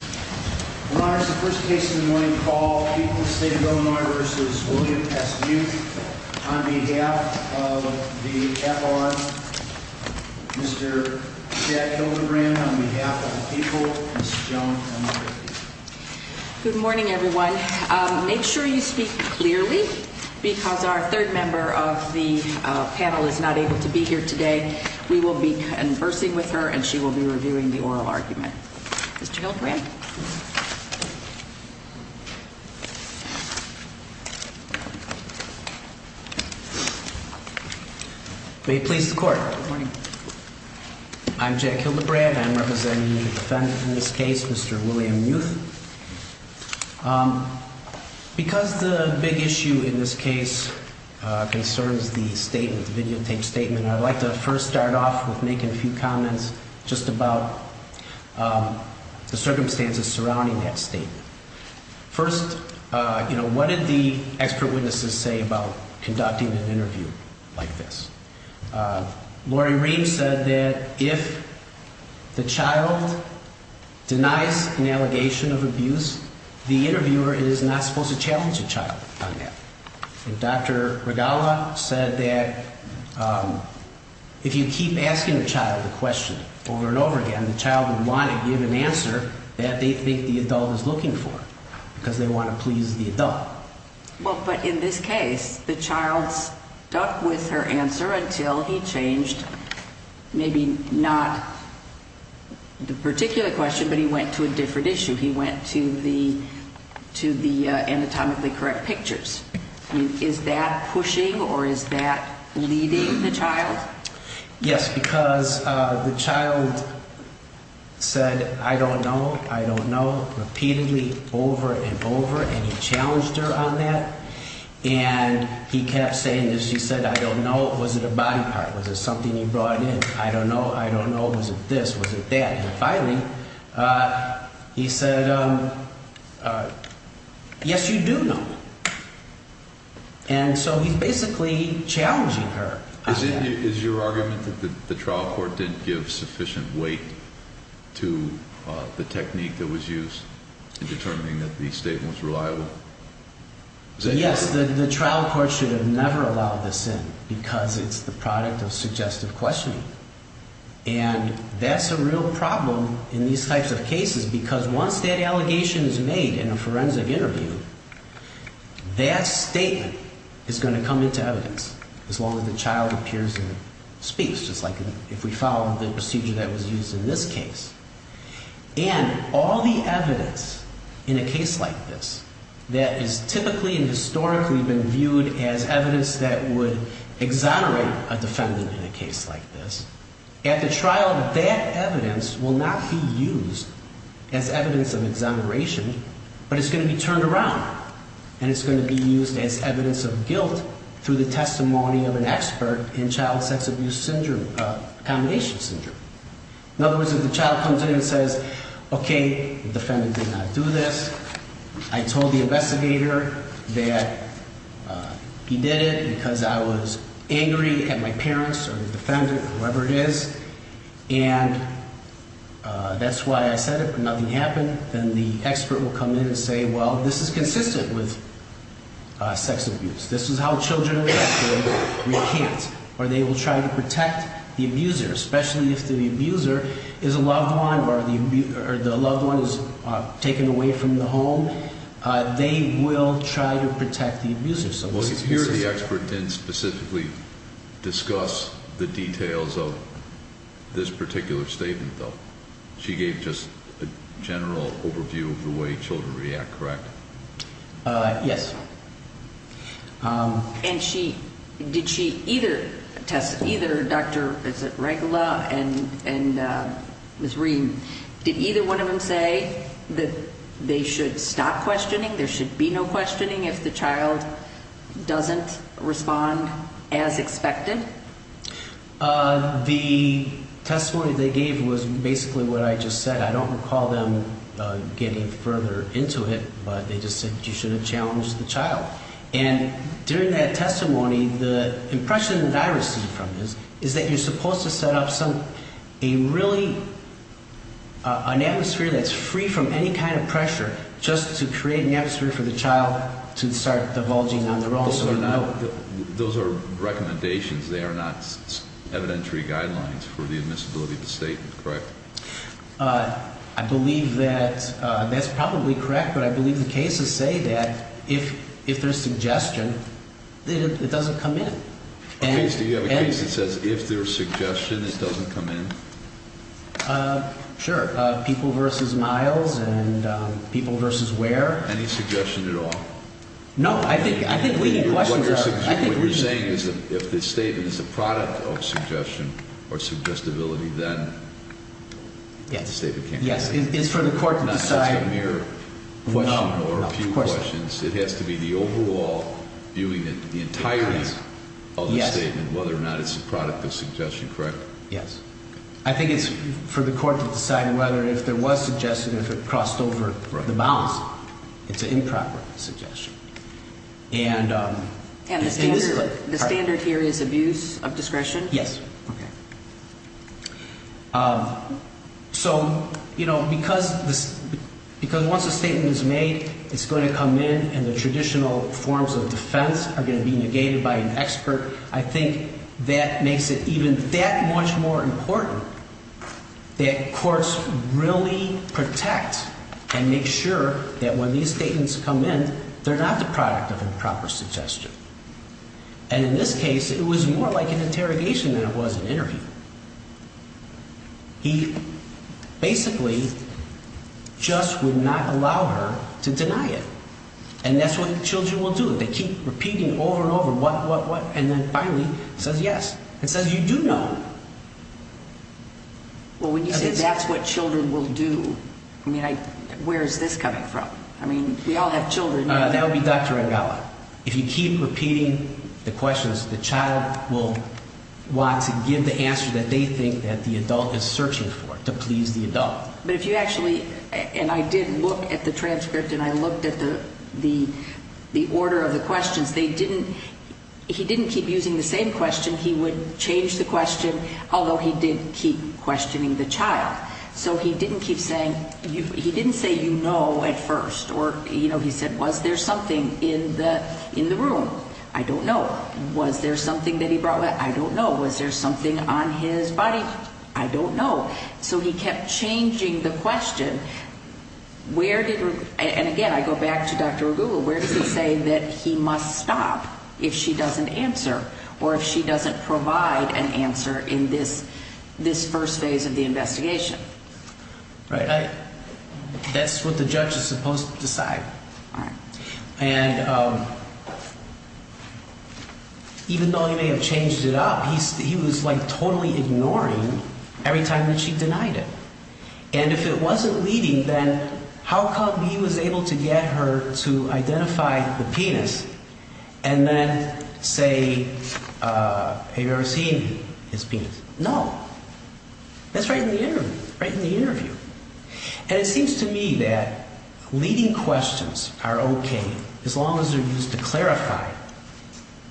Good morning, everyone. Make sure you speak clearly because our third member of the panel is not able to be here today. We will be conversing with her and she will be reviewing the oral argument. Mr. Hildebrand. May it please the court. Good morning. I'm Jack Hildebrand. I'm representing the defendant in this case, Mr. William Muth. Because the big issue in this case concerns the statement, the videotape statement, I'd like to first start off with making a few comments just about the circumstances surrounding that statement. First, you know, what did the expert witnesses say about conducting an interview like this? Lori Ream said that if the child denies an allegation of abuse, the interviewer is not supposed to challenge the child on that. And Dr. Regala said that if you keep asking the child the question over and over again, the child would want to give an answer that they think the adult is looking for because they want to please the adult. Well, but in this case, the child stuck with her answer until he changed, maybe not the particular question, but he went to a different issue. He went to the anatomically correct pictures. Is that pushing or is that leading the child? Yes, because the child said, I don't know. I don't know. Repeatedly over and over. And he challenged her on that. And he kept saying this. She said, I don't know. Was it a body part? Was it something you brought in? I don't know. I don't know. Was it this? Was it that? And finally, he said, yes, you do know. And so he's basically challenging her. Is your argument that the trial court didn't give sufficient weight to the technique that was used in determining that the statement was reliable? Yes, the trial court should have never allowed this in because it's the product of suggestive questioning. And that's a real problem in these types of cases because once that allegation is made in a forensic interview, that statement is going to come into evidence as long as the child appears and speaks, just like if we follow the procedure that was used in this case. And all the evidence in a case like this that is typically and historically been viewed as evidence that would exonerate a defendant in a case like this, at the trial, that evidence will not be used as evidence of exoneration, but it's going to be turned around. And it's going to be used as evidence of guilt through the testimony of an expert in child sex abuse syndrome, accommodation syndrome. In other words, if the child comes in and says, okay, the defendant did not do this. I told the investigator that he did it because I was angry at my parents or the defendant, whoever it is. And that's why I said it, but nothing happened. Then the expert will come in and say, well, this is consistent with sex abuse. This is how children react when we can't. Or they will try to protect the abuser, especially if the abuser is a loved one or the loved one is taken away from the home. They will try to protect the abuser. Here the expert didn't specifically discuss the details of this particular statement, though. She gave just a general overview of the way children react, correct? Yes. And she, did she either test, either Dr. Regula and Ms. Rehm, did either one of them say that they should stop questioning, there should be no questioning if the child doesn't respond as expected? The testimony they gave was basically what I just said. I don't recall them getting further into it, but they just said you should have challenged the child. And during that testimony, the impression that I received from this is that you're supposed to set up some, a really, an atmosphere that's free from any kind of pressure just to create an atmosphere for the child to start divulging on their own. Those are recommendations. They are not evidentiary guidelines for the admissibility of the statement, correct? I believe that, that's probably correct, but I believe the cases say that if there's suggestion, it doesn't come in. Okay, so you have a case that says if there's suggestion, it doesn't come in? Sure. People versus miles and people versus where. Any suggestion at all? No, I think leading questions are. What you're saying is that if the statement is a product of suggestion or suggestibility, then the statement can't come in. Yes, it's for the court to decide. It's not just a mere question or a few questions. It has to be the overall viewing the entirety of the statement, whether or not it's a product of suggestion, correct? Yes. I think it's for the court to decide whether if there was suggestion, if it crossed over the bounds. It's an improper suggestion. And the standard here is abuse of discretion? Yes. Okay. So, you know, because once a statement is made, it's going to come in and the traditional forms of defense are going to be negated by an expert. I think that makes it even that much more important that courts really protect and make sure that when these statements come in, they're not the product of improper suggestion. And in this case, it was more like an interrogation than it was an interview. He basically just would not allow her to deny it. And that's what children will do. They keep repeating over and over what, what, what, and then finally says yes. It says you do know. Well, when you say that's what children will do, I mean, where is this coming from? I mean, we all have children. That would be Dr. Angala. If you keep repeating the questions, the child will want to give the answer that they think that the adult is searching for to please the adult. But if you actually, and I did look at the transcript and I looked at the, the, the order of the questions, they didn't, he didn't keep using the same question. He would change the question, although he did keep questioning the child. So he didn't keep saying, he didn't say, you know, at first, or, you know, he said, was there something in the, in the room? I don't know. Was there something that he brought with? I don't know. Was there something on his body? I don't know. So he kept changing the question. Where did, and again, I go back to Dr. Ragugu, where does he say that he must stop if she doesn't answer or if she doesn't provide an answer in this, this first phase of the investigation? Right. That's what the judge is supposed to decide. And even though he may have changed it up, he was like totally ignoring every time that she denied it. And if it wasn't leading, then how come he was able to get her to identify the penis and then say, have you ever seen his penis? No. That's right in the interview, right in the interview. And it seems to me that leading questions are okay as long as they're used to clarify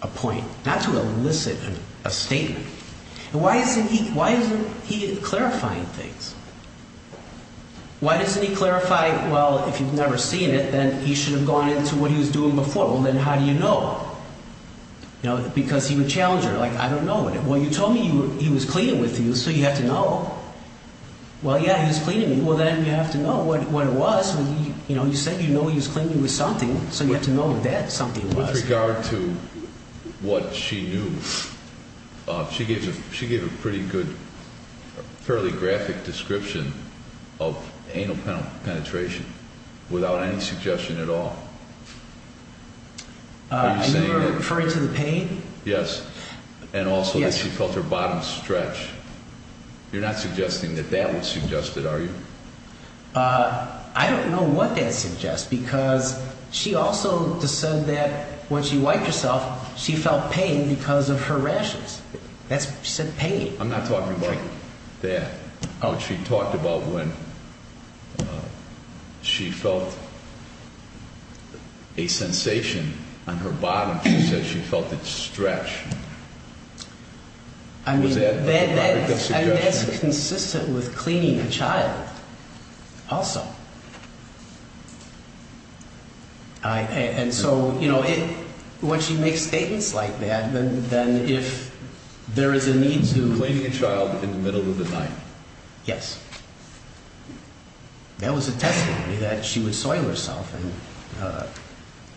a point, not to elicit a statement. And why isn't he, why isn't he clarifying things? Why doesn't he clarify, well, if you've never seen it, then he should have gone into what he was doing before. Well, then how do you know? You know, because he would challenge her, like, I don't know. Well, you told me he was cleaning with you, so you have to know. Well, yeah, he was cleaning. Well, then you have to know what, what it was when he, you know, you said, you know, he was cleaning with something. So you have to know that something was. With regard to what she knew, she gave a, she gave a pretty good, fairly graphic description of anal penetration without any suggestion at all. Are you referring to the pain? Yes. And also that she felt her bottom stretch. You're not suggesting that that was suggested, are you? I don't know what that suggests, because she also said that when she wiped herself, she felt pain because of her rashes. That's, she said pain. I'm not talking about that. Oh, she talked about when she felt a sensation on her bottom, she said she felt it stretch. I mean, that's consistent with cleaning a child also. And so, you know, when she makes statements like that, then if there is a need to. Cleaning a child in the middle of the night. Yes. That was a testimony that she would soil herself and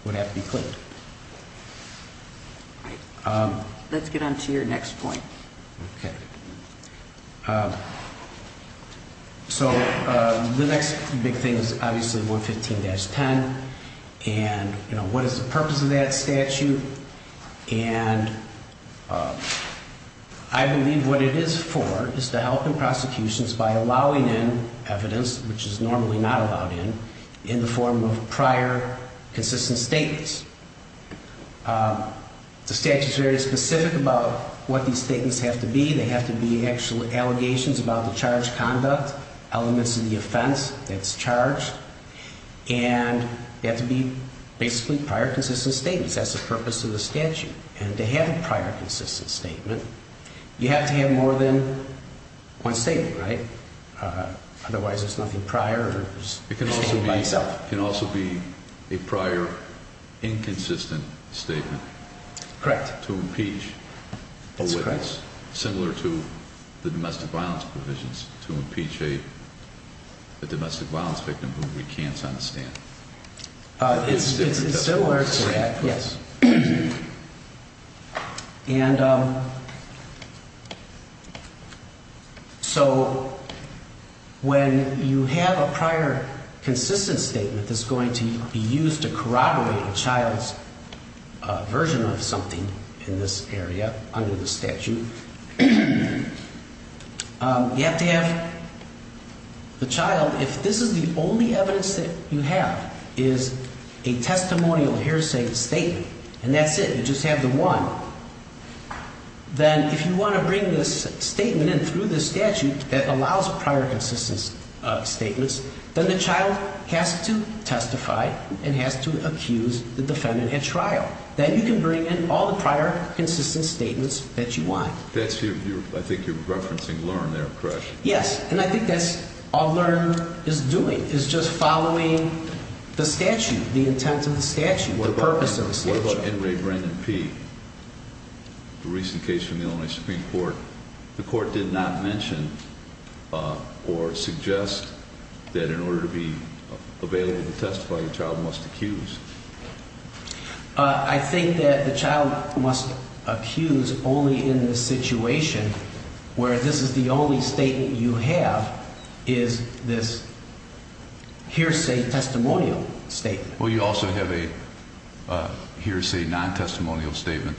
would have to be cleaned. Let's get on to your next point. So the next big thing is obviously 115-10. And, you know, what is the purpose of that statute? And I believe what it is for is to help in prosecutions by allowing in evidence, which is normally not allowed in, in the form of prior consistent statements. The statute is very specific about what these statements have to be. They have to be actual allegations about the charged conduct, elements of the offense that's charged. And they have to be basically prior consistent statements. That's the purpose of the statute. And to have a prior consistent statement, you have to have more than one statement, right? The domestic violence victim who recants on the stand. It's similar to that. Yes. And so when you have a prior consistent statement that's going to be used to corroborate a child's version of something in this area under the statute. You have to have the child, if this is the only evidence that you have is a testimonial, here's a statement, and that's it. You just have the one. Then if you want to bring this statement in through the statute that allows prior consistent statements, then the child has to testify and has to accuse the defendant at trial. Then you can bring in all the prior consistent statements that you want. That's your, I think you're referencing LEARN there, correct? Yes. And I think that's all LEARN is doing is just following the statute, the intent of the statute, the purpose of the statute. What about NRA Brandon P, the recent case from the Illinois Supreme Court? The court did not mention or suggest that in order to be available to testify, the child must accuse. I think that the child must accuse only in the situation where this is the only statement you have is this hearsay testimonial statement. Well, you also have a hearsay non-testimonial statement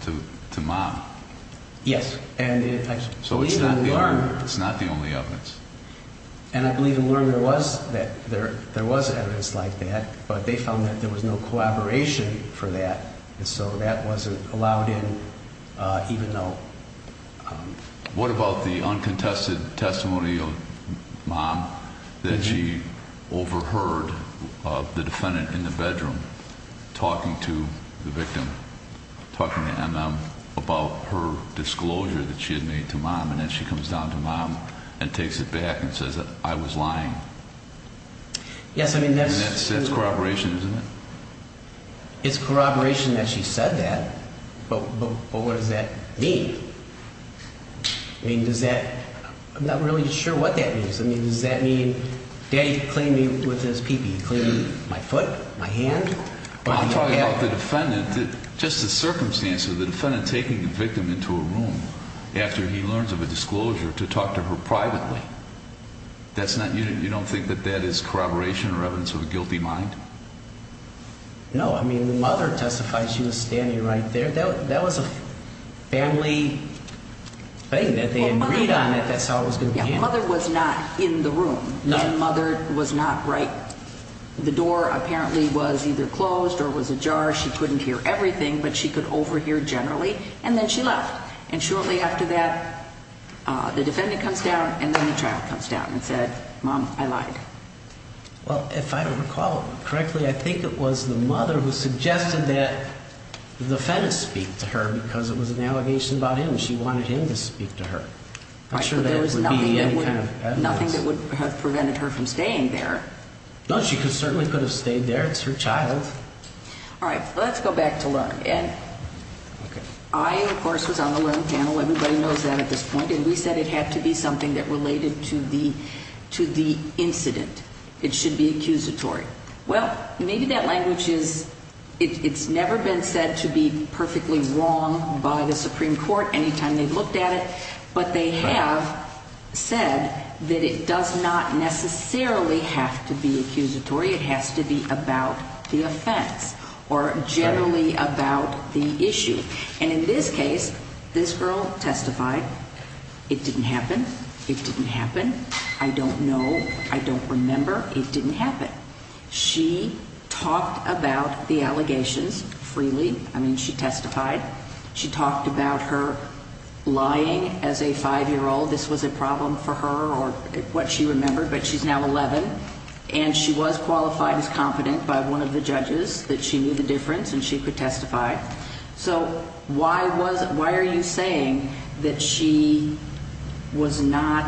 to mom. Yes, and I believe in LEARN. So it's not the only evidence. And I believe in LEARN there was evidence like that, but they found that there was no collaboration for that, and so that wasn't allowed in even though. What about the uncontested testimony of mom that she overheard the defendant in the bedroom talking to the victim, talking to MM about her disclosure that she had made to mom, and then she comes down to mom and takes it back and says that I was lying? Yes, I mean that's... And that's corroboration, isn't it? It's corroboration that she said that, but what does that mean? I mean, does that... I'm not really sure what that means. I mean, does that mean daddy claimed me with his pee pee? He claimed my foot, my hand? I'm talking about the defendant, just the circumstance of the defendant taking the victim into a room after he learns of a disclosure to talk to her privately. That's not... you don't think that that is corroboration or evidence of a guilty mind? No, I mean, the mother testified she was standing right there. That was a family thing, that they agreed on it. That's how it was going to be handled. Yeah, mother was not in the room. The mother was not, right? The door apparently was either closed or was ajar. She couldn't hear everything, but she could overhear generally, and then she left. And shortly after that, the defendant comes down, and then the child comes down and said, mom, I lied. Well, if I recall correctly, I think it was the mother who suggested that the defendant speak to her because it was an allegation about him, and she wanted him to speak to her. Right, but there was nothing that would have prevented her from staying there. No, she certainly could have stayed there. It's her child. All right, let's go back to Leung. And I, of course, was on the Leung panel. Everybody knows that at this point. And we said it had to be something that related to the incident. It should be accusatory. Well, maybe that language is, it's never been said to be perfectly wrong by the Supreme Court anytime they've looked at it, but they have said that it does not necessarily have to be accusatory. It has to be about the offense or generally about the issue. And in this case, this girl testified. It didn't happen. It didn't happen. I don't know. I don't remember. It didn't happen. She talked about the allegations freely. I mean, she testified. She talked about her lying as a five-year-old. This was a problem for her or what she remembered, but she's now 11, and she was qualified as confident by one of the judges that she knew the difference and she could testify. So why are you saying that she was not,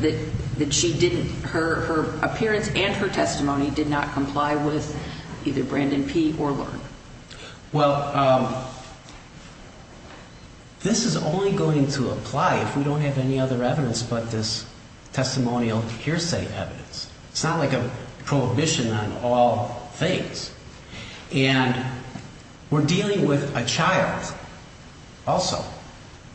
that she didn't, her appearance and her testimony did not comply with either Brandon P. or Leung? Well, this is only going to apply if we don't have any other evidence but this testimonial hearsay evidence. It's not like a prohibition on all things. And we're dealing with a child also.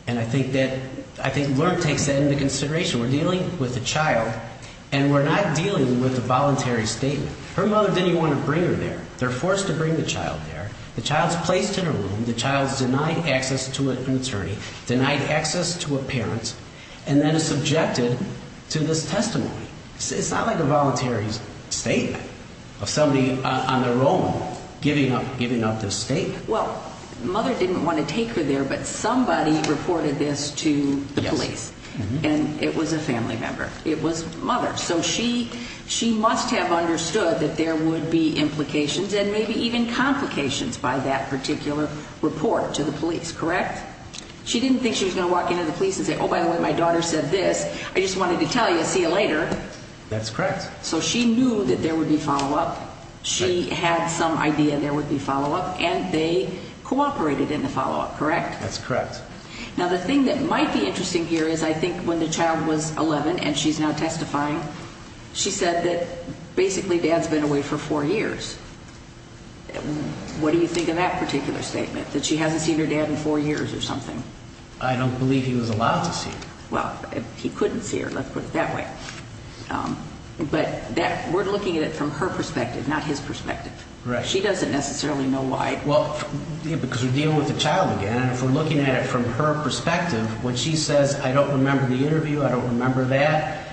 And I think that, I think Leung takes that into consideration. We're dealing with a child, and we're not dealing with a voluntary statement. Her mother didn't even want to bring her there. They're forced to bring the child there. The child's placed in a room. The child's denied access to an attorney, denied access to a parent, and then is subjected to this testimony. It's not like a voluntary statement of somebody on their own giving up this statement. Well, mother didn't want to take her there, but somebody reported this to the police. And it was a family member. It was mother. So she must have understood that there would be implications and maybe even complications by that particular report to the police, correct? She didn't think she was going to walk into the police and say, oh, by the way, my daughter said this. I just wanted to tell you, see you later. That's correct. So she knew that there would be follow-up. She had some idea there would be follow-up, and they cooperated in the follow-up, correct? That's correct. Now, the thing that might be interesting here is I think when the child was 11 and she's now testifying, she said that basically dad's been away for four years. What do you think of that particular statement, that she hasn't seen her dad in four years or something? I don't believe he was allowed to see her. Well, he couldn't see her, let's put it that way. But we're looking at it from her perspective, not his perspective. Correct. She doesn't necessarily know why. Because we're dealing with a child again, and if we're looking at it from her perspective, when she says, I don't remember the interview, I don't remember that,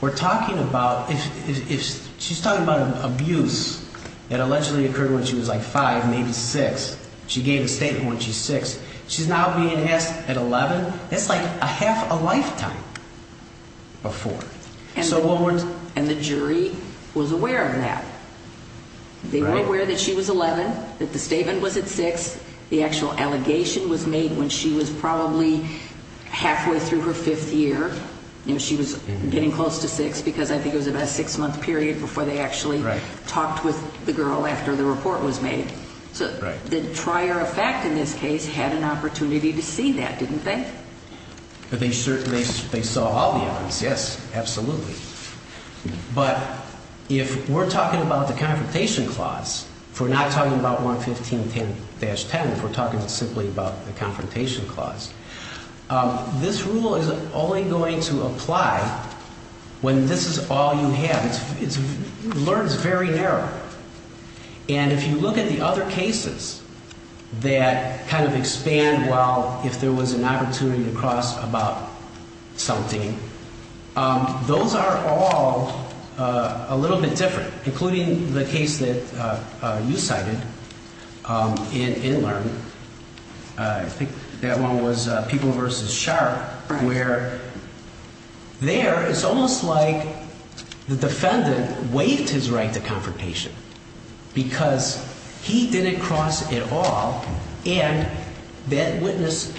we're talking about, she's talking about abuse that allegedly occurred when she was like five, maybe six. She gave a statement when she was six. She's now being asked at 11. That's like a half a lifetime before. And the jury was aware of that. They were aware that she was 11, that the statement was at six, the actual allegation was made when she was probably halfway through her fifth year. She was getting close to six because I think it was about a six-month period before they actually talked with the girl after the report was made. So the trier of fact in this case had an opportunity to see that, didn't they? They saw all the evidence, yes, absolutely. But if we're talking about the Confrontation Clause, if we're not talking about 115-10, if we're talking simply about the Confrontation Clause, this rule is only going to apply when this is all you have. In fact, Learn is very narrow. And if you look at the other cases that kind of expand well, if there was an opportunity to cross about something, those are all a little bit different, including the case that you cited in Learn. I think that one was People v. Sharp, where there it's almost like the defendant waived his right to confrontation because he didn't cross at all. And that witness,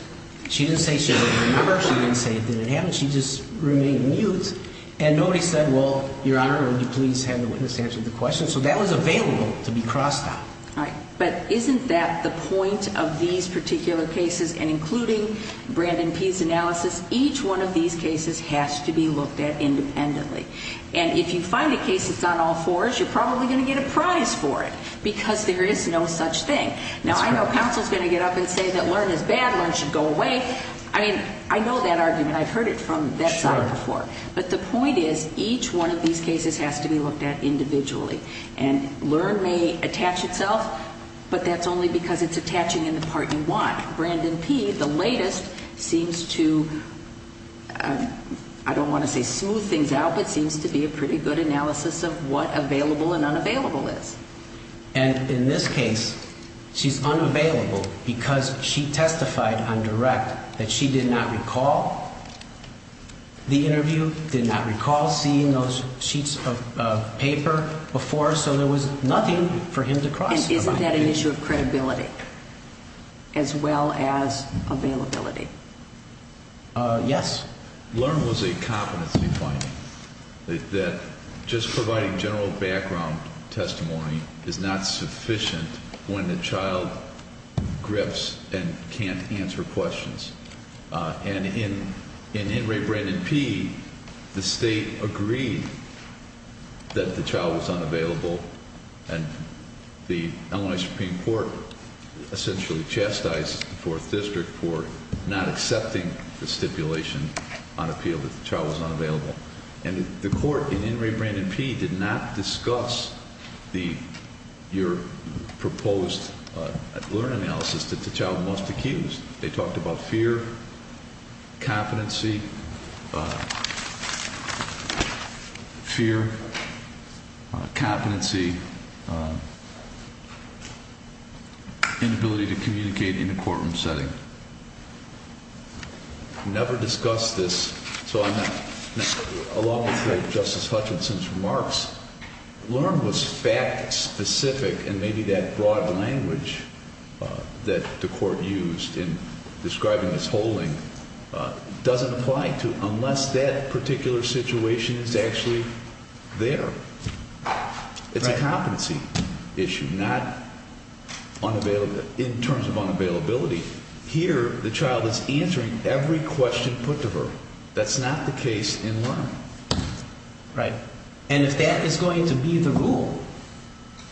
she didn't say she didn't remember. She didn't say it didn't happen. She just remained mute. And nobody said, well, Your Honor, will you please have the witness answer the question? So that was available to be crossed out. All right. But isn't that the point of these particular cases and including Brandon P's analysis? Each one of these cases has to be looked at independently. And if you find a case that's on all fours, you're probably going to get a prize for it because there is no such thing. Now, I know counsel's going to get up and say that Learn is bad, Learn should go away. I mean, I know that argument. I've heard it from that side before. But the point is, each one of these cases has to be looked at individually. And Learn may attach itself, but that's only because it's attaching in the part you want. Brandon P, the latest, seems to, I don't want to say smooth things out, but seems to be a pretty good analysis of what available and unavailable is. And in this case, she's unavailable because she testified on direct that she did not recall the interview, did not recall seeing those sheets of paper before, so there was nothing for him to cross out. And isn't that an issue of credibility as well as availability? Yes. She's not accepting the stipulation on appeal that the child was unavailable. And the court in In re Brandon P did not discuss your proposed Learn analysis that the child must accuse. They talked about fear, competency, inability to communicate in a courtroom setting. Never discussed this. So along with Justice Hutchinson's remarks, Learn was fact specific and maybe that broad language that the court used in describing this holding doesn't apply to unless that particular situation is actually there. It's a competency issue, not in terms of unavailability. Here, the child is answering every question put to her. That's not the case in Learn. Right. And if that is going to be the rule,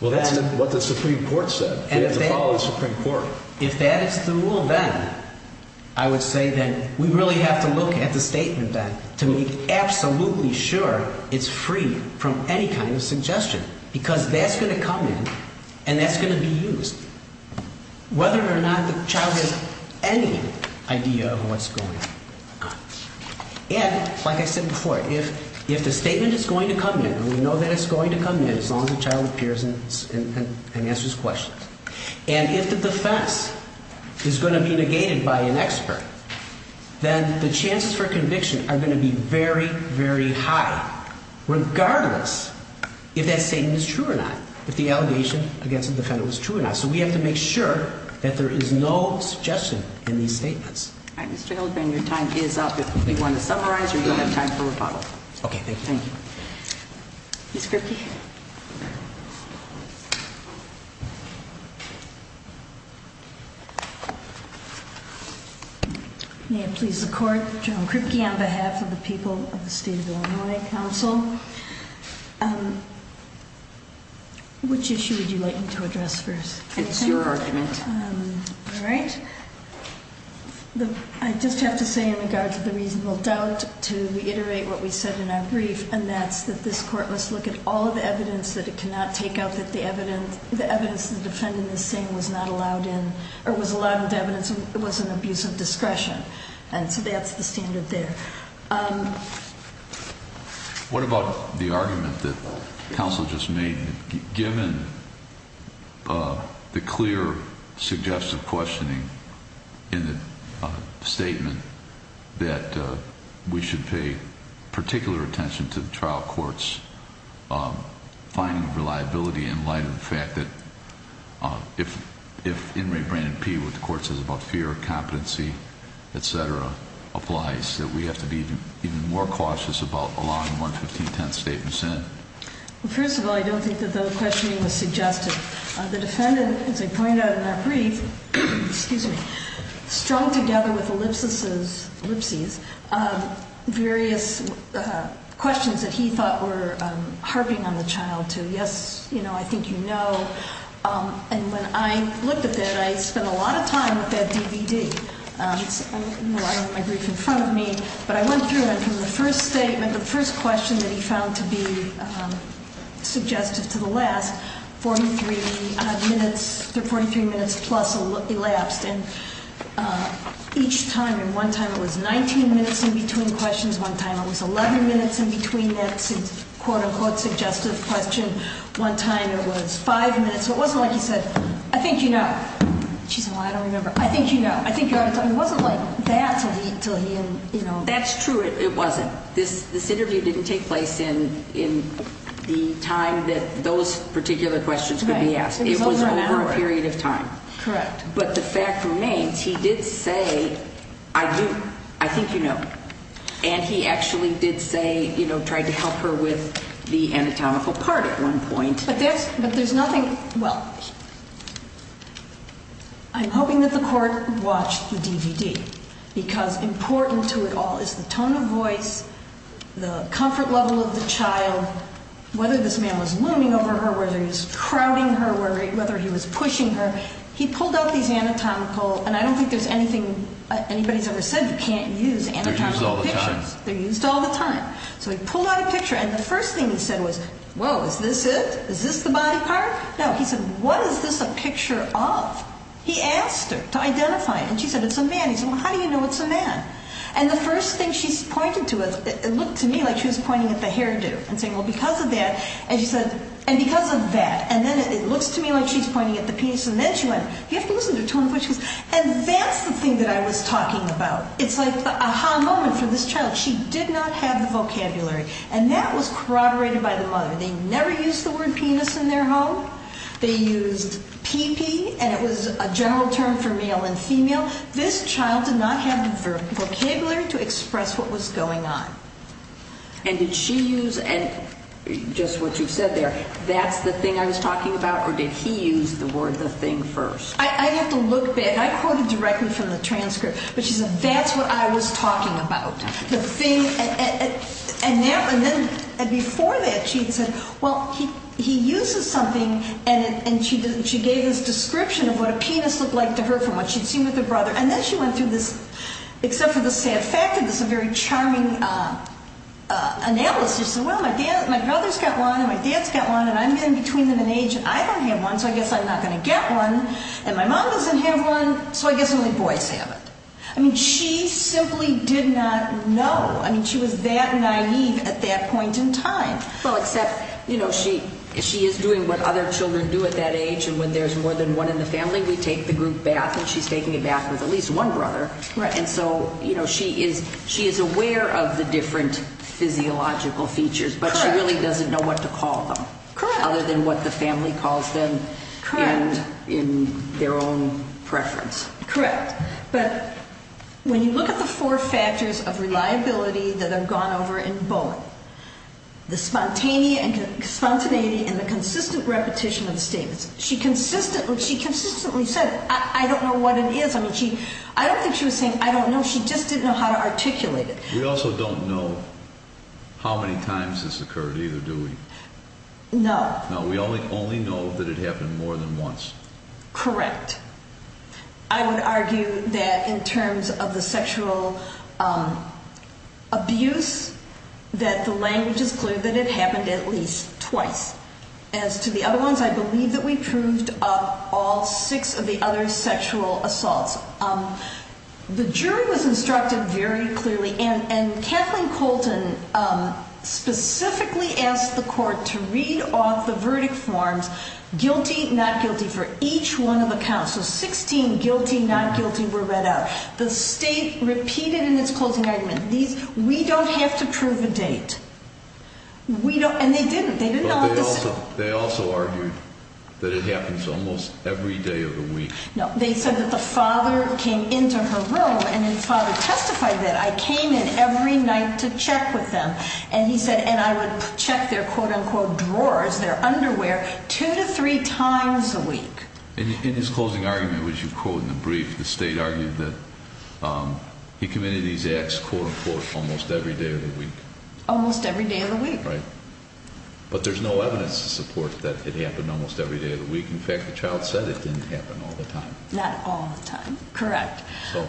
then… Well, that's what the Supreme Court said. You have to follow the Supreme Court. If that is the rule, then I would say that we really have to look at the statement then to make absolutely sure it's free from any kind of suggestion, because that's going to come in and that's going to be used, whether or not the child has any idea of what's going on. And like I said before, if the statement is going to come in, we know that it's going to come in as long as the child appears and answers questions. And if the defense is going to be negated by an expert, then the chances for conviction are going to be very, very high, regardless if that statement is true or not, if the allegation against the defendant was true or not. So we have to make sure that there is no suggestion in these statements. All right, Mr. Hildebrand, your time is up. Do you want to summarize or do you have time for rebuttal? Okay, thank you. Thank you. Ms. Kripke? May it please the Court, General Kripke, on behalf of the people of the State of Illinois Council, which issue would you like me to address first? It's your argument. All right. I just have to say in regards to the reasonable doubt, to reiterate what we said in our brief, and that's that this Court must look at all of the evidence that it cannot take out that the evidence the defendant is saying was not allowed in, or was allowed into evidence and was an abuse of discretion. And so that's the standard there. What about the argument that counsel just made, given the clear suggestive questioning in the statement that we should pay particular attention to the trial court's finding of reliability in light of the fact that if Inmate Brandon P., what the court says about fear, competency, et cetera, applies, that we have to be even more cautious about allowing 115 tenths statements in? Well, first of all, I don't think that the questioning was suggestive. The defendant, as I pointed out in our brief, strung together with ellipses, various questions that he thought were harping on the child to yes, I think you know. And when I looked at that, I spent a lot of time with that DVD. I don't have my brief in front of me, but I went through it, and from the first statement, the first question that he found to be suggestive to the last, 43 minutes, 43 minutes plus elapsed. And each time, and one time it was 19 minutes in between questions, one time it was 11 minutes in between that quote-unquote suggestive question, one time it was five minutes. So it wasn't like he said, I think you know. She said, well, I don't remember. I think you know. I think you ought to tell me. It wasn't like that until he, you know. That's true. It wasn't. This interview didn't take place in the time that those particular questions could be asked. It was over an hour. It was over a period of time. Correct. But the fact remains, he did say, I do, I think you know. And he actually did say, you know, tried to help her with the anatomical part at one point. But there's nothing, well, I'm hoping that the court watched the DVD because important to it all is the tone of voice, the comfort level of the child, whether this man was looming over her, whether he was crowding her, whether he was pushing her. But he pulled out these anatomical, and I don't think there's anything anybody's ever said you can't use anatomical pictures. They're used all the time. They're used all the time. So he pulled out a picture. And the first thing he said was, whoa, is this it? Is this the body part? No. He said, what is this a picture of? He asked her to identify it. And she said, it's a man. He said, well, how do you know it's a man? And the first thing she pointed to, it looked to me like she was pointing at the hairdo and saying, well, because of that. And she said, and because of that. And then it looks to me like she's pointing at the penis. And then she went, you have to listen to the tone of voice. And that's the thing that I was talking about. It's like the aha moment for this child. She did not have the vocabulary. And that was corroborated by the mother. They never used the word penis in their home. They used pee-pee, and it was a general term for male and female. This child did not have the vocabulary to express what was going on. And did she use, and just what you said there, that's the thing I was talking about? Or did he use the word the thing first? I have to look back. I quoted directly from the transcript. But she said, that's what I was talking about, the thing. And before that, she said, well, he uses something. And she gave this description of what a penis looked like to her from what she'd seen with her brother. And then she went through this, except for the sad fact that this is a very charming analysis. She said, well, my brother's got one, and my dad's got one, and I'm in between them in age. I don't have one, so I guess I'm not going to get one. And my mom doesn't have one, so I guess only boys have it. I mean, she simply did not know. I mean, she was that naive at that point in time. Well, except, you know, she is doing what other children do at that age. And when there's more than one in the family, we take the group bath. And she's taking a bath with at least one brother. Right. And so, you know, she is aware of the different physiological features. Correct. But she really doesn't know what to call them. Correct. Other than what the family calls them in their own preference. Correct. But when you look at the four factors of reliability that have gone over in Bowling, the spontaneity and the consistent repetition of statements, she consistently said, I don't know what it is. I mean, I don't think she was saying, I don't know. She just didn't know how to articulate it. We also don't know how many times this occurred either, do we? No. No, we only know that it happened more than once. Correct. I would argue that in terms of the sexual abuse, that the language is clear that it happened at least twice. As to the other ones, I believe that we proved up all six of the other sexual assaults. The jury was instructed very clearly, and Kathleen Colton specifically asked the court to read off the verdict forms, guilty, not guilty, for each one of the counts. So 16 guilty, not guilty, were read out. The state repeated in its closing argument, we don't have to prove a date. And they didn't. They also argued that it happens almost every day of the week. No, they said that the father came into her room, and the father testified that I came in every night to check with them. And he said, and I would check their, quote, unquote, drawers, their underwear, two to three times a week. In his closing argument, which you quote in the brief, the state argued that he committed these acts, quote, unquote, almost every day of the week. Almost every day of the week. Right. But there's no evidence to support that it happened almost every day of the week. In fact, the child said it didn't happen all the time. Not all the time. Correct.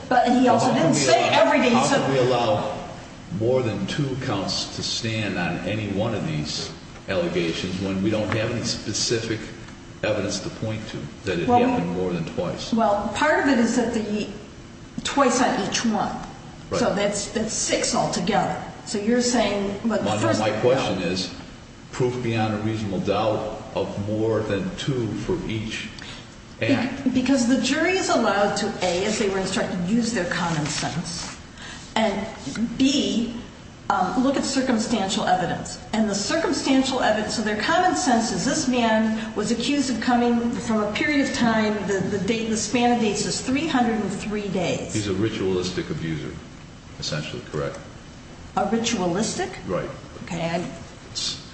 But he also didn't say every day. How could we allow more than two counts to stand on any one of these allegations when we don't have any specific evidence to point to that it happened more than twice? Well, part of it is that twice on each one. Right. So that's six altogether. So you're saying what the first one is. My question is, proof beyond a reasonable doubt of more than two for each act. Because the jury is allowed to, A, as they were instructed, use their common sense, and, B, look at circumstantial evidence. And the circumstantial evidence of their common sense is this man was accused of coming from a period of time, the span of dates is 303 days. He's a ritualistic abuser. That would be essentially correct. A ritualistic? Right. Okay.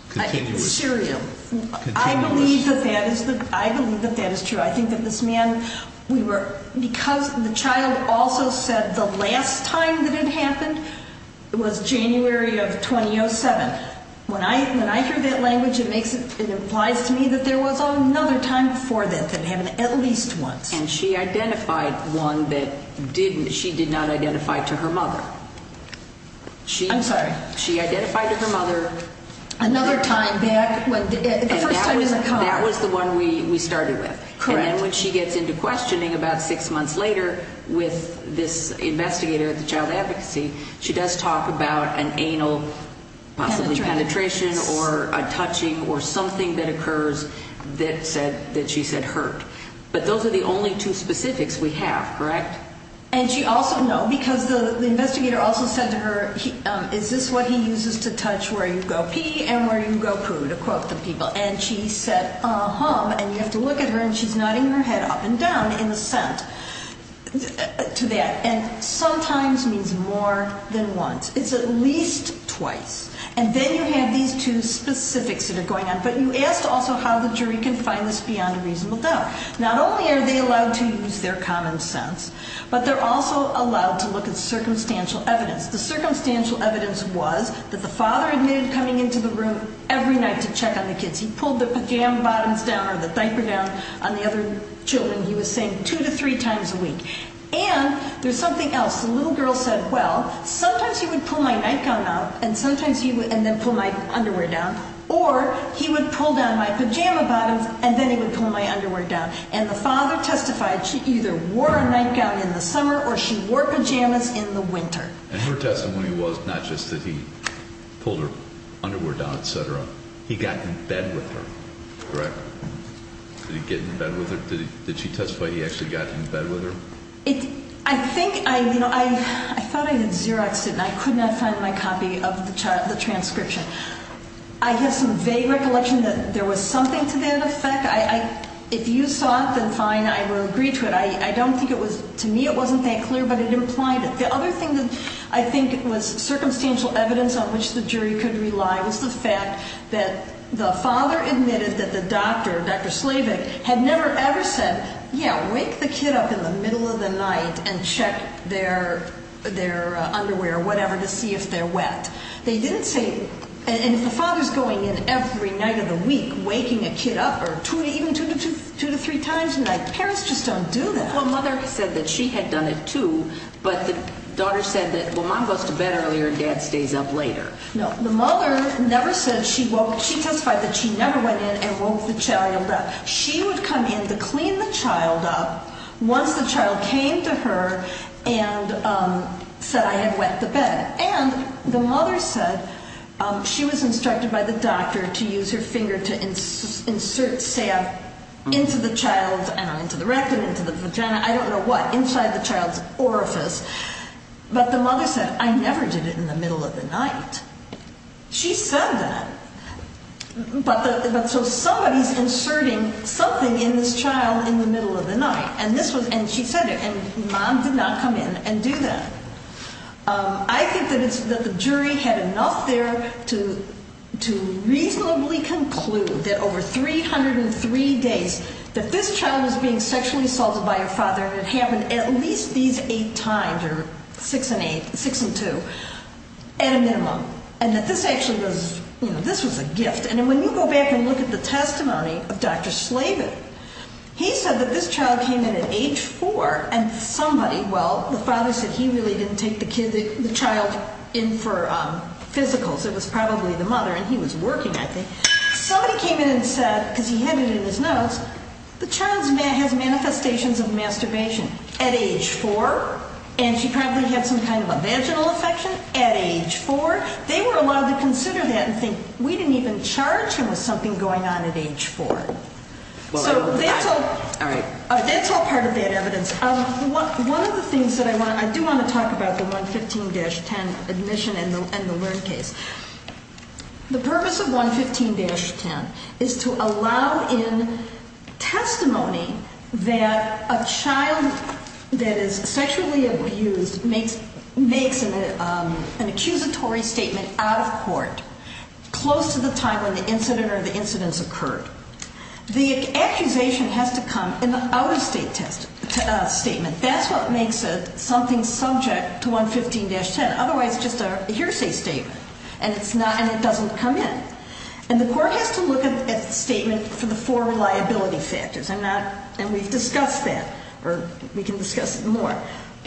Continuous. Serial. Continuous. I believe that that is true. I think that this man, because the child also said the last time that it happened was January of 2007. When I hear that language, it implies to me that there was another time before that that happened at least once. And she identified one that she did not identify to her mother. I'm sorry. She identified to her mother. Another time back when the first time in the car. That was the one we started with. Correct. And then when she gets into questioning about six months later with this investigator at the child advocacy, she does talk about an anal possibly penetration or a touching or something that occurs that she said hurt. But those are the only two specifics we have, correct? And she also, no, because the investigator also said to her, is this what he uses to touch where you go pee and where you go poo, to quote the people. And she said, uh-huh. And you have to look at her, and she's nodding her head up and down in assent to that. And sometimes means more than once. It's at least twice. And then you have these two specifics that are going on. But you asked also how the jury can find this beyond a reasonable doubt. Not only are they allowed to use their common sense, but they're also allowed to look at circumstantial evidence. The circumstantial evidence was that the father admitted coming into the room every night to check on the kids. He pulled the pajama bottoms down or the diaper down on the other children, he was saying, two to three times a week. And there's something else. The little girl said, well, sometimes he would pull my nightgown out and then pull my underwear down. Or he would pull down my pajama bottoms and then he would pull my underwear down. And the father testified she either wore a nightgown in the summer or she wore pajamas in the winter. And her testimony was not just that he pulled her underwear down, et cetera. He got in bed with her, correct? Did he get in bed with her? Did she testify he actually got in bed with her? I think I, you know, I thought I had Xeroxed it, and I could not find my copy of the transcription. I have some vague recollection that there was something to that effect. If you saw it, then fine, I will agree to it. I don't think it was, to me it wasn't that clear, but it implied it. The other thing that I think was circumstantial evidence on which the jury could rely was the fact that the father admitted that the doctor, Dr. Slavik, had never ever said, yeah, wake the kid up in the middle of the night and check their underwear or whatever to see if they're wet. They didn't say, and if the father's going in every night of the week waking a kid up or even two to three times a night, parents just don't do that. Well, mother said that she had done it too, but the daughter said that, well, mom goes to bed earlier and dad stays up later. No, the mother never said she woke, she testified that she never went in and woke the child up. She would come in to clean the child up once the child came to her and said I had wet the bed. And the mother said she was instructed by the doctor to use her finger to insert, say, into the child's, I don't know, into the rectum, into the vagina, I don't know what, inside the child's orifice, but the mother said I never did it in the middle of the night. She said that, but so somebody's inserting something in this child in the middle of the night, and she said it, and mom did not come in and do that. I think that the jury had enough there to reasonably conclude that over 303 days that this child was being sexually assaulted by her father, and it happened at least these eight times, or six and eight, six and two, at a minimum, and that this actually was, you know, this was a gift. And when you go back and look at the testimony of Dr. Slavin, he said that this child came in at age four and somebody, well, the father said he really didn't take the child in for physicals. It was probably the mother, and he was working, I think. Somebody came in and said, because he had it in his notes, the child has manifestations of masturbation at age four, and she probably had some kind of a vaginal infection at age four. They were allowed to consider that and think we didn't even charge him with something going on at age four. So that's all part of that evidence. One of the things that I want to, I do want to talk about the 115-10 admission and the learn case. The purpose of 115-10 is to allow in testimony that a child that is sexually abused makes an accusatory statement out of court close to the time when the incident or the incidents occurred. The accusation has to come in an out-of-state statement. That's what makes something subject to 115-10. Otherwise, it's just a hearsay statement, and it's not, and it doesn't come in. And the court has to look at the statement for the four reliability factors. I'm not, and we've discussed that, or we can discuss it more.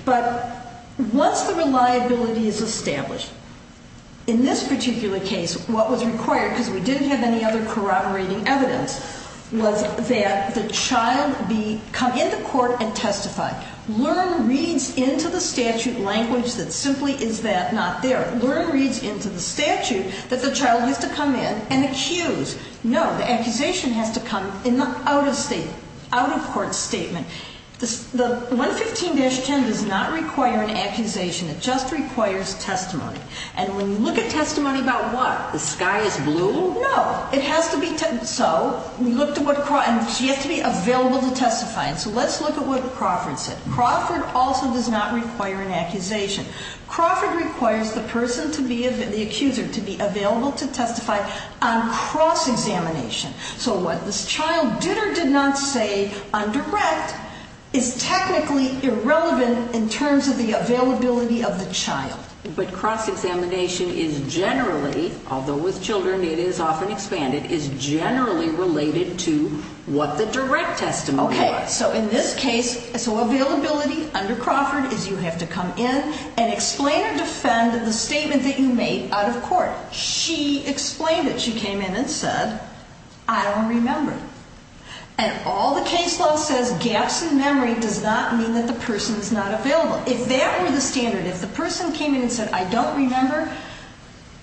But once the reliability is established, in this particular case, what was required, because we didn't have any other corroborating evidence, was that the child be, come in the court and testify. Learn reads into the statute language that simply is that not there. Learn reads into the statute that the child needs to come in and accuse. No, the accusation has to come in the out-of-state, out-of-court statement. The 115-10 does not require an accusation. It just requires testimony. And when you look at testimony about what? The sky is blue? No. It has to be, so we looked at what Crawford, and she has to be available to testify. And so let's look at what Crawford said. Crawford also does not require an accusation. Crawford requires the person to be, the accuser, to be available to testify on cross-examination. So what this child did or did not say on direct is technically irrelevant in terms of the availability of the child. But cross-examination is generally, although with children it is often expanded, is generally related to what the direct testimony was. Okay, so in this case, so availability under Crawford is you have to come in and explain or defend the statement that you made out-of-court. She explained it. She came in and said, I don't remember. And all the case law says, gaps in memory does not mean that the person is not available. If that were the standard, if the person came in and said, I don't remember,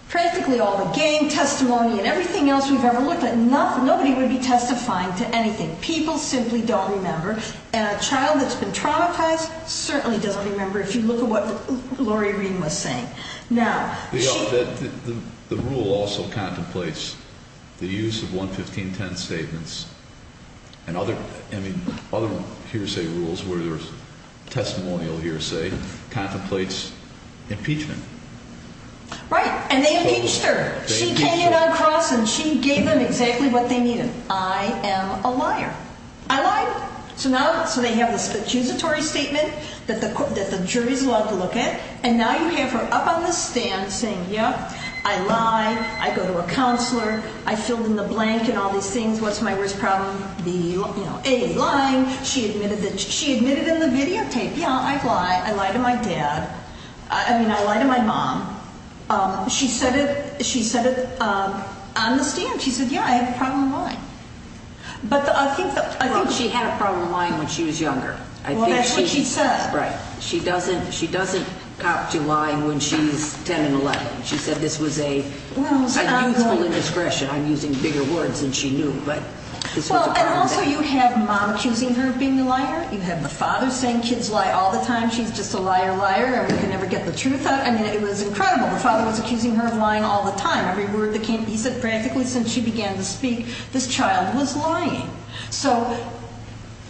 practically all the gang testimony and everything else we've ever looked at, nobody would be testifying to anything. People simply don't remember. And a child that's been traumatized certainly doesn't remember if you look at what Lori Reen was saying. The rule also contemplates the use of 11510 statements and other hearsay rules where there's testimonial hearsay, contemplates impeachment. Right, and they impeached her. She came in on cross and she gave them exactly what they needed. I am a liar. I lied. So now, so they have this accusatory statement that the jury's allowed to look at. And now you have her up on the stand saying, yeah, I lie. I go to a counselor. I filled in the blank and all these things. What's my worst problem? A, lying. She admitted in the videotape, yeah, I lie. I lie to my dad. I mean, I lie to my mom. She said it on the stand. She said, yeah, I have a problem with lying. But I think she had a problem lying when she was younger. Well, that's what she said. Right. She doesn't cop to lying when she's 10 and 11. She said this was a useful indiscretion. I'm using bigger words than she knew, but this was a problem then. Well, and also you have mom accusing her of being a liar. You have the father saying kids lie all the time. She's just a liar liar and we can never get the truth out. I mean, it was incredible. The father was accusing her of lying all the time. He said practically since she began to speak, this child was lying. So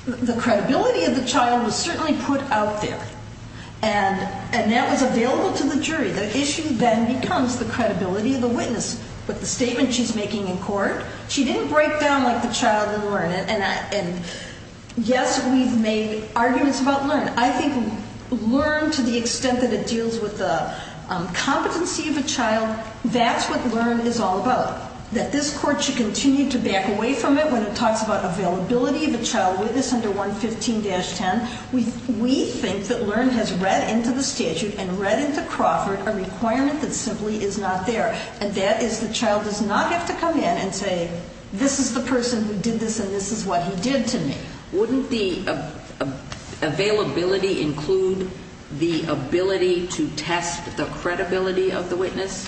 the credibility of the child was certainly put out there. And that was available to the jury. The issue then becomes the credibility of the witness with the statement she's making in court. She didn't break down like the child in Learn. And, yes, we've made arguments about Learn. I think Learn, to the extent that it deals with the competency of a child, that's what Learn is all about, that this court should continue to back away from it when it talks about availability of a child witness under 115-10. We think that Learn has read into the statute and read into Crawford a requirement that simply is not there, and that is the child does not have to come in and say, this is the person who did this and this is what he did to me. Wouldn't the availability include the ability to test the credibility of the witness,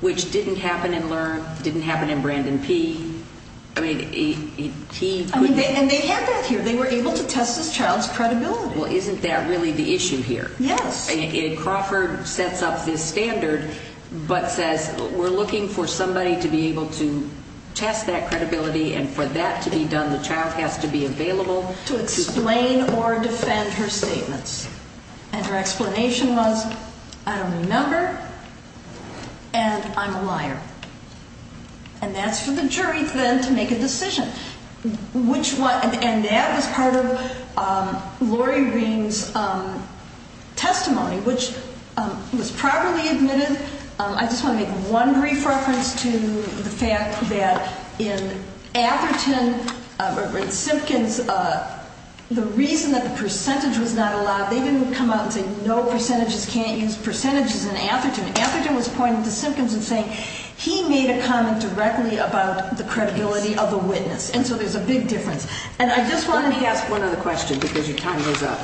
which didn't happen in Learn, didn't happen in Brandon P? I mean, he couldn't. And they had that here. They were able to test this child's credibility. Well, isn't that really the issue here? Yes. Crawford sets up this standard but says we're looking for somebody to be able to test that credibility and for that to be done, the child has to be available to explain or defend her statements. And her explanation was, I don't remember and I'm a liar. And that's for the jury then to make a decision. And that was part of Lori Ring's testimony, which was properly admitted. I just want to make one brief reference to the fact that in Atherton, in Simpkins, the reason that the percentage was not allowed, they didn't come out and say no, percentages can't use percentages in Atherton. Atherton was pointing to Simpkins and saying he made a comment directly about the credibility of the witness. And so there's a big difference. And I just wanted to ask one other question because your time goes up.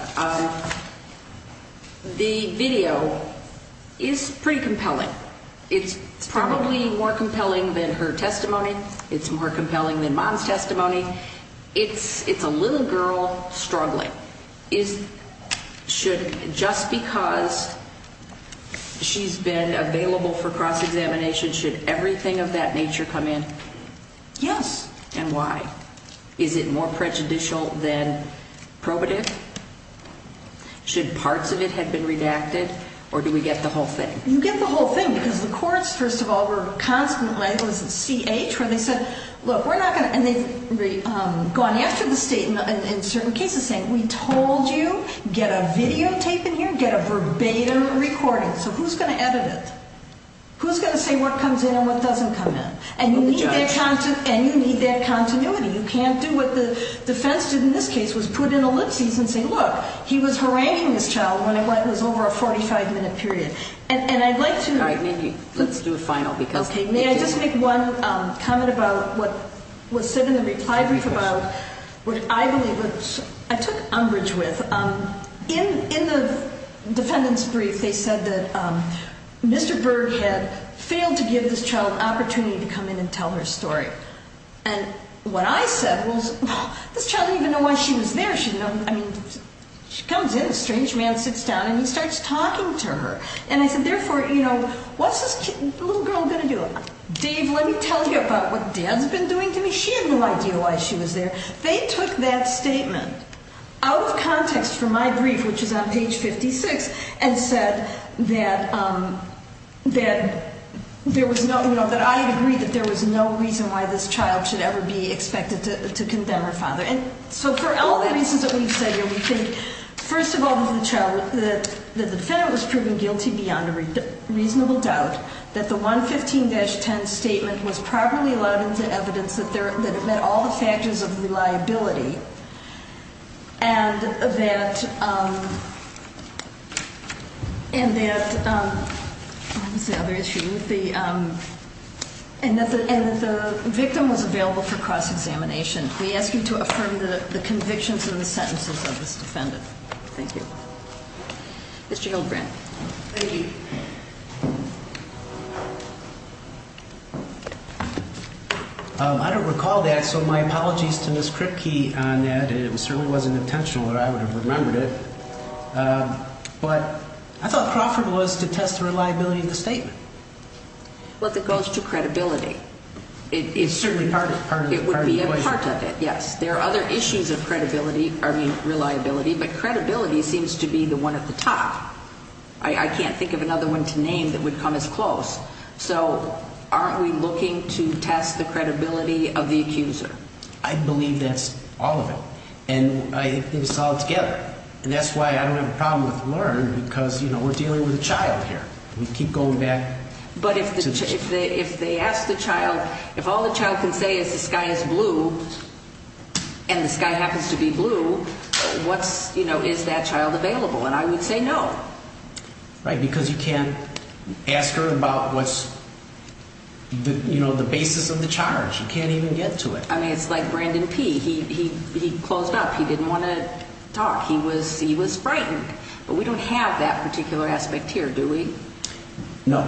The video is pretty compelling. It's probably more compelling than her testimony. It's more compelling than Mom's testimony. It's a little girl struggling. Just because she's been available for cross-examination, should everything of that nature come in? Yes. And why? Is it more prejudicial than probative? Should parts of it have been redacted? Or do we get the whole thing? You get the whole thing because the courts, first of all, were constantly, I believe it was at CH, where they said, look, we're not going to, and they've gone after the state in certain cases, saying we told you get a videotape in here, get a verbatim recording. So who's going to edit it? Who's going to say what comes in and what doesn't come in? And you need that continuity. You can't do what the defense did in this case, was put in ellipses and say, look, he was haranguing this child when it was over a 45-minute period. And I'd like to. All right. Maybe let's do a final because. Okay. May I just make one comment about what was said in the reply brief about what I believe, which I took umbrage with. In the defendant's brief, they said that Mr. Berg had failed to give this child an opportunity to come in and tell her story. And what I said was, well, this child didn't even know why she was there. I mean, she comes in, a strange man sits down, and he starts talking to her. And I said, therefore, you know, what's this little girl going to do? Dave, let me tell you about what Dad's been doing to me. She had no idea why she was there. They took that statement out of context for my brief, which is on page 56, and said that there was no, you know, that I agree that there was no reason why this child should ever be expected to condemn her father. And so for all the reasons that we've said here, we think, first of all, that the defendant was proven guilty beyond a reasonable doubt, that the 115-10 statement was properly allowed into evidence, that it met all the factors of reliability, and that the victim was available for cross-examination. We ask you to affirm the convictions and the sentences of this defendant. Thank you. Mr. Hillbrand. Thank you. I don't recall that, so my apologies to Ms. Kripke on that. It certainly wasn't intentional that I would have remembered it. But I thought Crawford was to test the reliability of the statement. Well, it goes to credibility. It's certainly part of the equation. It would be a part of it, yes. There are other issues of credibility, I mean, reliability, but credibility seems to be the one at the top. I can't think of another one to name that would come as close. So aren't we looking to test the credibility of the accuser? I believe that's all of it. And I think it's all together. And that's why I don't have a problem with LEARN because, you know, we're dealing with a child here. We keep going back. But if they ask the child, if all the child can say is the sky is blue, and the sky happens to be blue, what's, you know, is that child available? And I would say no. Right, because you can't ask her about what's, you know, the basis of the charge. You can't even get to it. I mean, it's like Brandon P. He closed up. He didn't want to talk. He was frightened. But we don't have that particular aspect here, do we? No.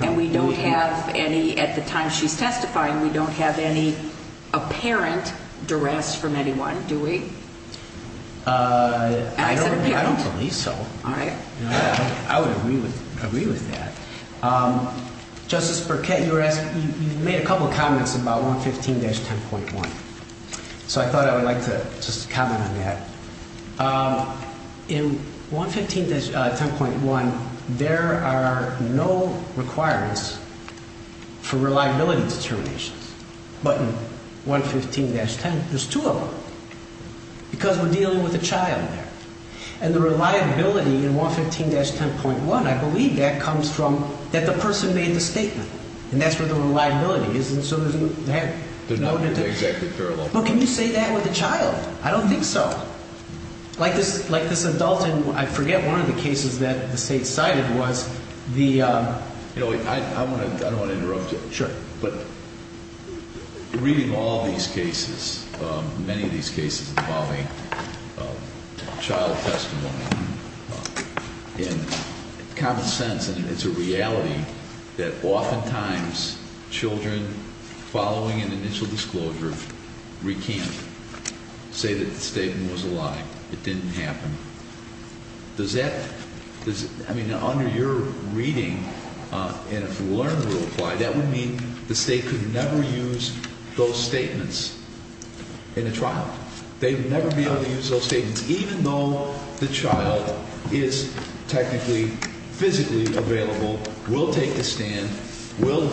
And we don't have any, at the time she's testifying, we don't have any apparent duress from anyone, do we? I don't believe so. All right. I would agree with that. Justice Burkett, you made a couple of comments about 115-10.1. So I thought I would like to just comment on that. In 115-10.1, there are no requirements for reliability determinations. But in 115-10, there's two of them. Because we're dealing with a child there. And the reliability in 115-10.1, I believe that comes from that the person made the statement. And that's where the reliability is. And so there's no need to. They're not exactly parallel. But can you say that with a child? I don't think so. Like this adult in, I forget, one of the cases that the State cited was the... You know, I don't want to interrupt you. Sure. But reading all these cases, many of these cases involving child testimony, in common sense, and it's a reality that oftentimes children following an initial disclosure recant, say that the statement was a lie. It didn't happen. Does that? I mean, under your reading, and if the Learn Rule apply, that would mean the State could never use those statements in a trial. They would never be able to use those statements, even though the child is technically physically available, will take the stand, will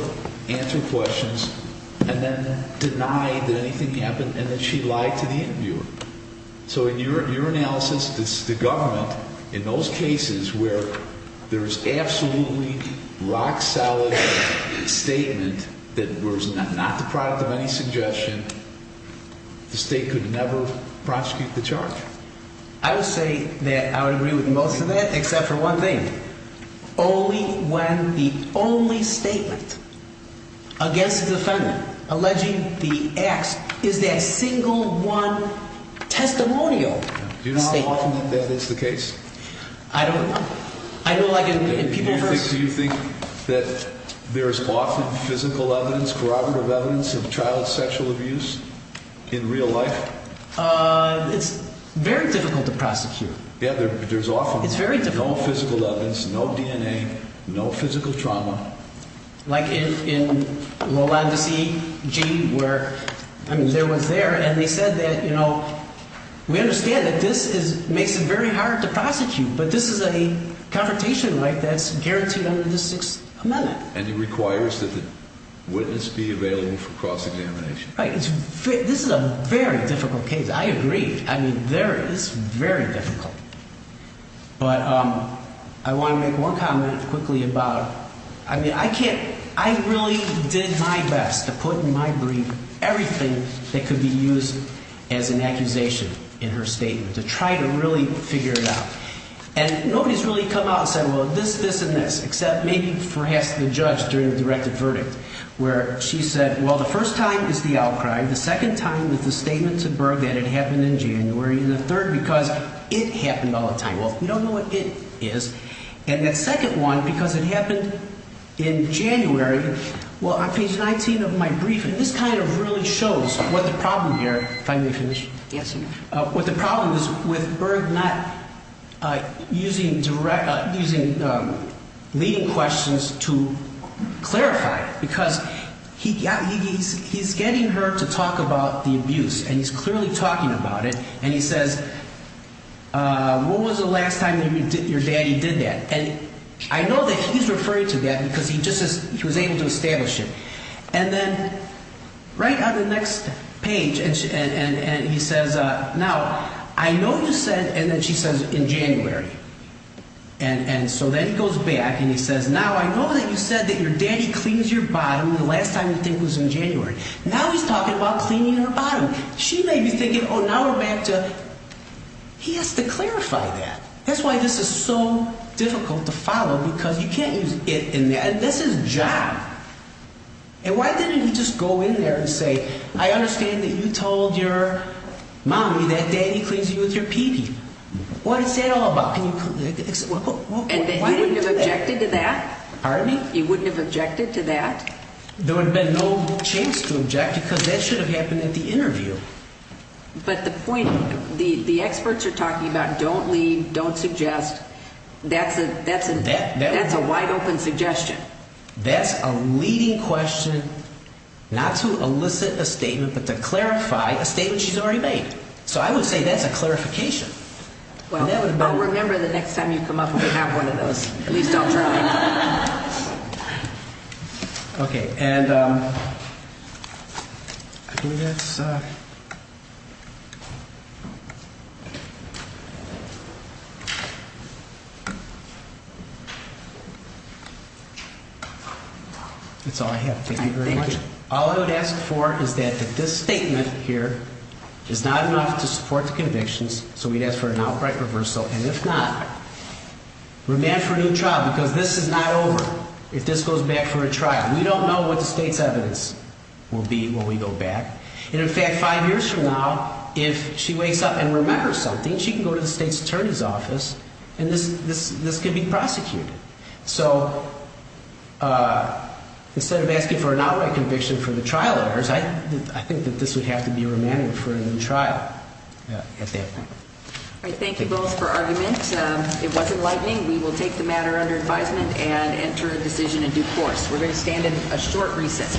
answer questions, and then deny that anything happened and that she lied to the interviewer. So in your analysis, the government, in those cases where there's absolutely rock-solid statement that was not the product of any suggestion, the State could never prosecute the charge. I would say that I would agree with most of that, except for one thing. Only when the only statement against the defendant alleging the acts is that single one testimonial statement. Do you know how often that is the case? I don't know. I know, like, in people's... Do you think that there is often physical evidence, corroborative evidence of child sexual abuse in real life? It's very difficult to prosecute. Yeah, there's often... It's very difficult. There's no physical evidence, no DNA, no physical trauma. Like in Lowlandes E.G., where, I mean, there was there, and they said that, you know, we understand that this makes it very hard to prosecute, but this is a confrontation, right, that's guaranteed under the Sixth Amendment. And it requires that the witness be available for cross-examination. Right. This is a very difficult case. I agree. I mean, there is very difficult. But I want to make one comment quickly about, I mean, I can't... I really did my best to put in my brief everything that could be used as an accusation in her statement to try to really figure it out. And nobody's really come out and said, well, this, this, and this, except maybe for asking the judge during the directed verdict, where she said, well, the first time is the outcry, the second time is the statement to Berg that it happened in January, and the third, because it happened all the time. Well, we don't know what it is. And that second one, because it happened in January. Well, on page 19 of my briefing, this kind of really shows what the problem here. If I may finish. Yes, sir. What the problem is with Berg not using direct, using leading questions to clarify it, because he's getting her to talk about the abuse, and he's clearly talking about it. And he says, when was the last time your daddy did that? And I know that he's referring to that because he just says he was able to establish it. And then right on the next page, and he says, now, I know you said, and then she says, in January. And so then he goes back and he says, now, I know that you said that your daddy cleans your bottom the last time you think was in January. Now he's talking about cleaning her bottom. She may be thinking, oh, now we're back to, he has to clarify that. That's why this is so difficult to follow, because you can't use it in there. And this is John. And why didn't he just go in there and say, I understand that you told your mommy that daddy cleans you with your pee-pee. What is that all about? And he wouldn't have objected to that? Pardon me? He wouldn't have objected to that? There would have been no chance to object, because that should have happened at the interview. But the point, the experts are talking about don't lead, don't suggest. That's a wide-open suggestion. That's a leading question, not to elicit a statement, but to clarify a statement she's already made. So I would say that's a clarification. Well, remember the next time you come up with another one of those. At least I'll try. Okay. And I think that's all I have. Thank you very much. All I would ask for is that this statement here is not enough to support the convictions, so we'd ask for an outright reversal. And if not, remand for a new trial, because this is not over if this goes back for a trial. We don't know what the state's evidence will be when we go back. And in fact, five years from now, if she wakes up and remembers something, she can go to the state's attorney's office, and this could be prosecuted. So instead of asking for an outright conviction for the trial errors, I think that this would have to be remanded for a new trial at that point. All right, thank you both for argument. It was enlightening. We will take the matter under advisement and enter a decision in due course. We're going to stand in a short recess.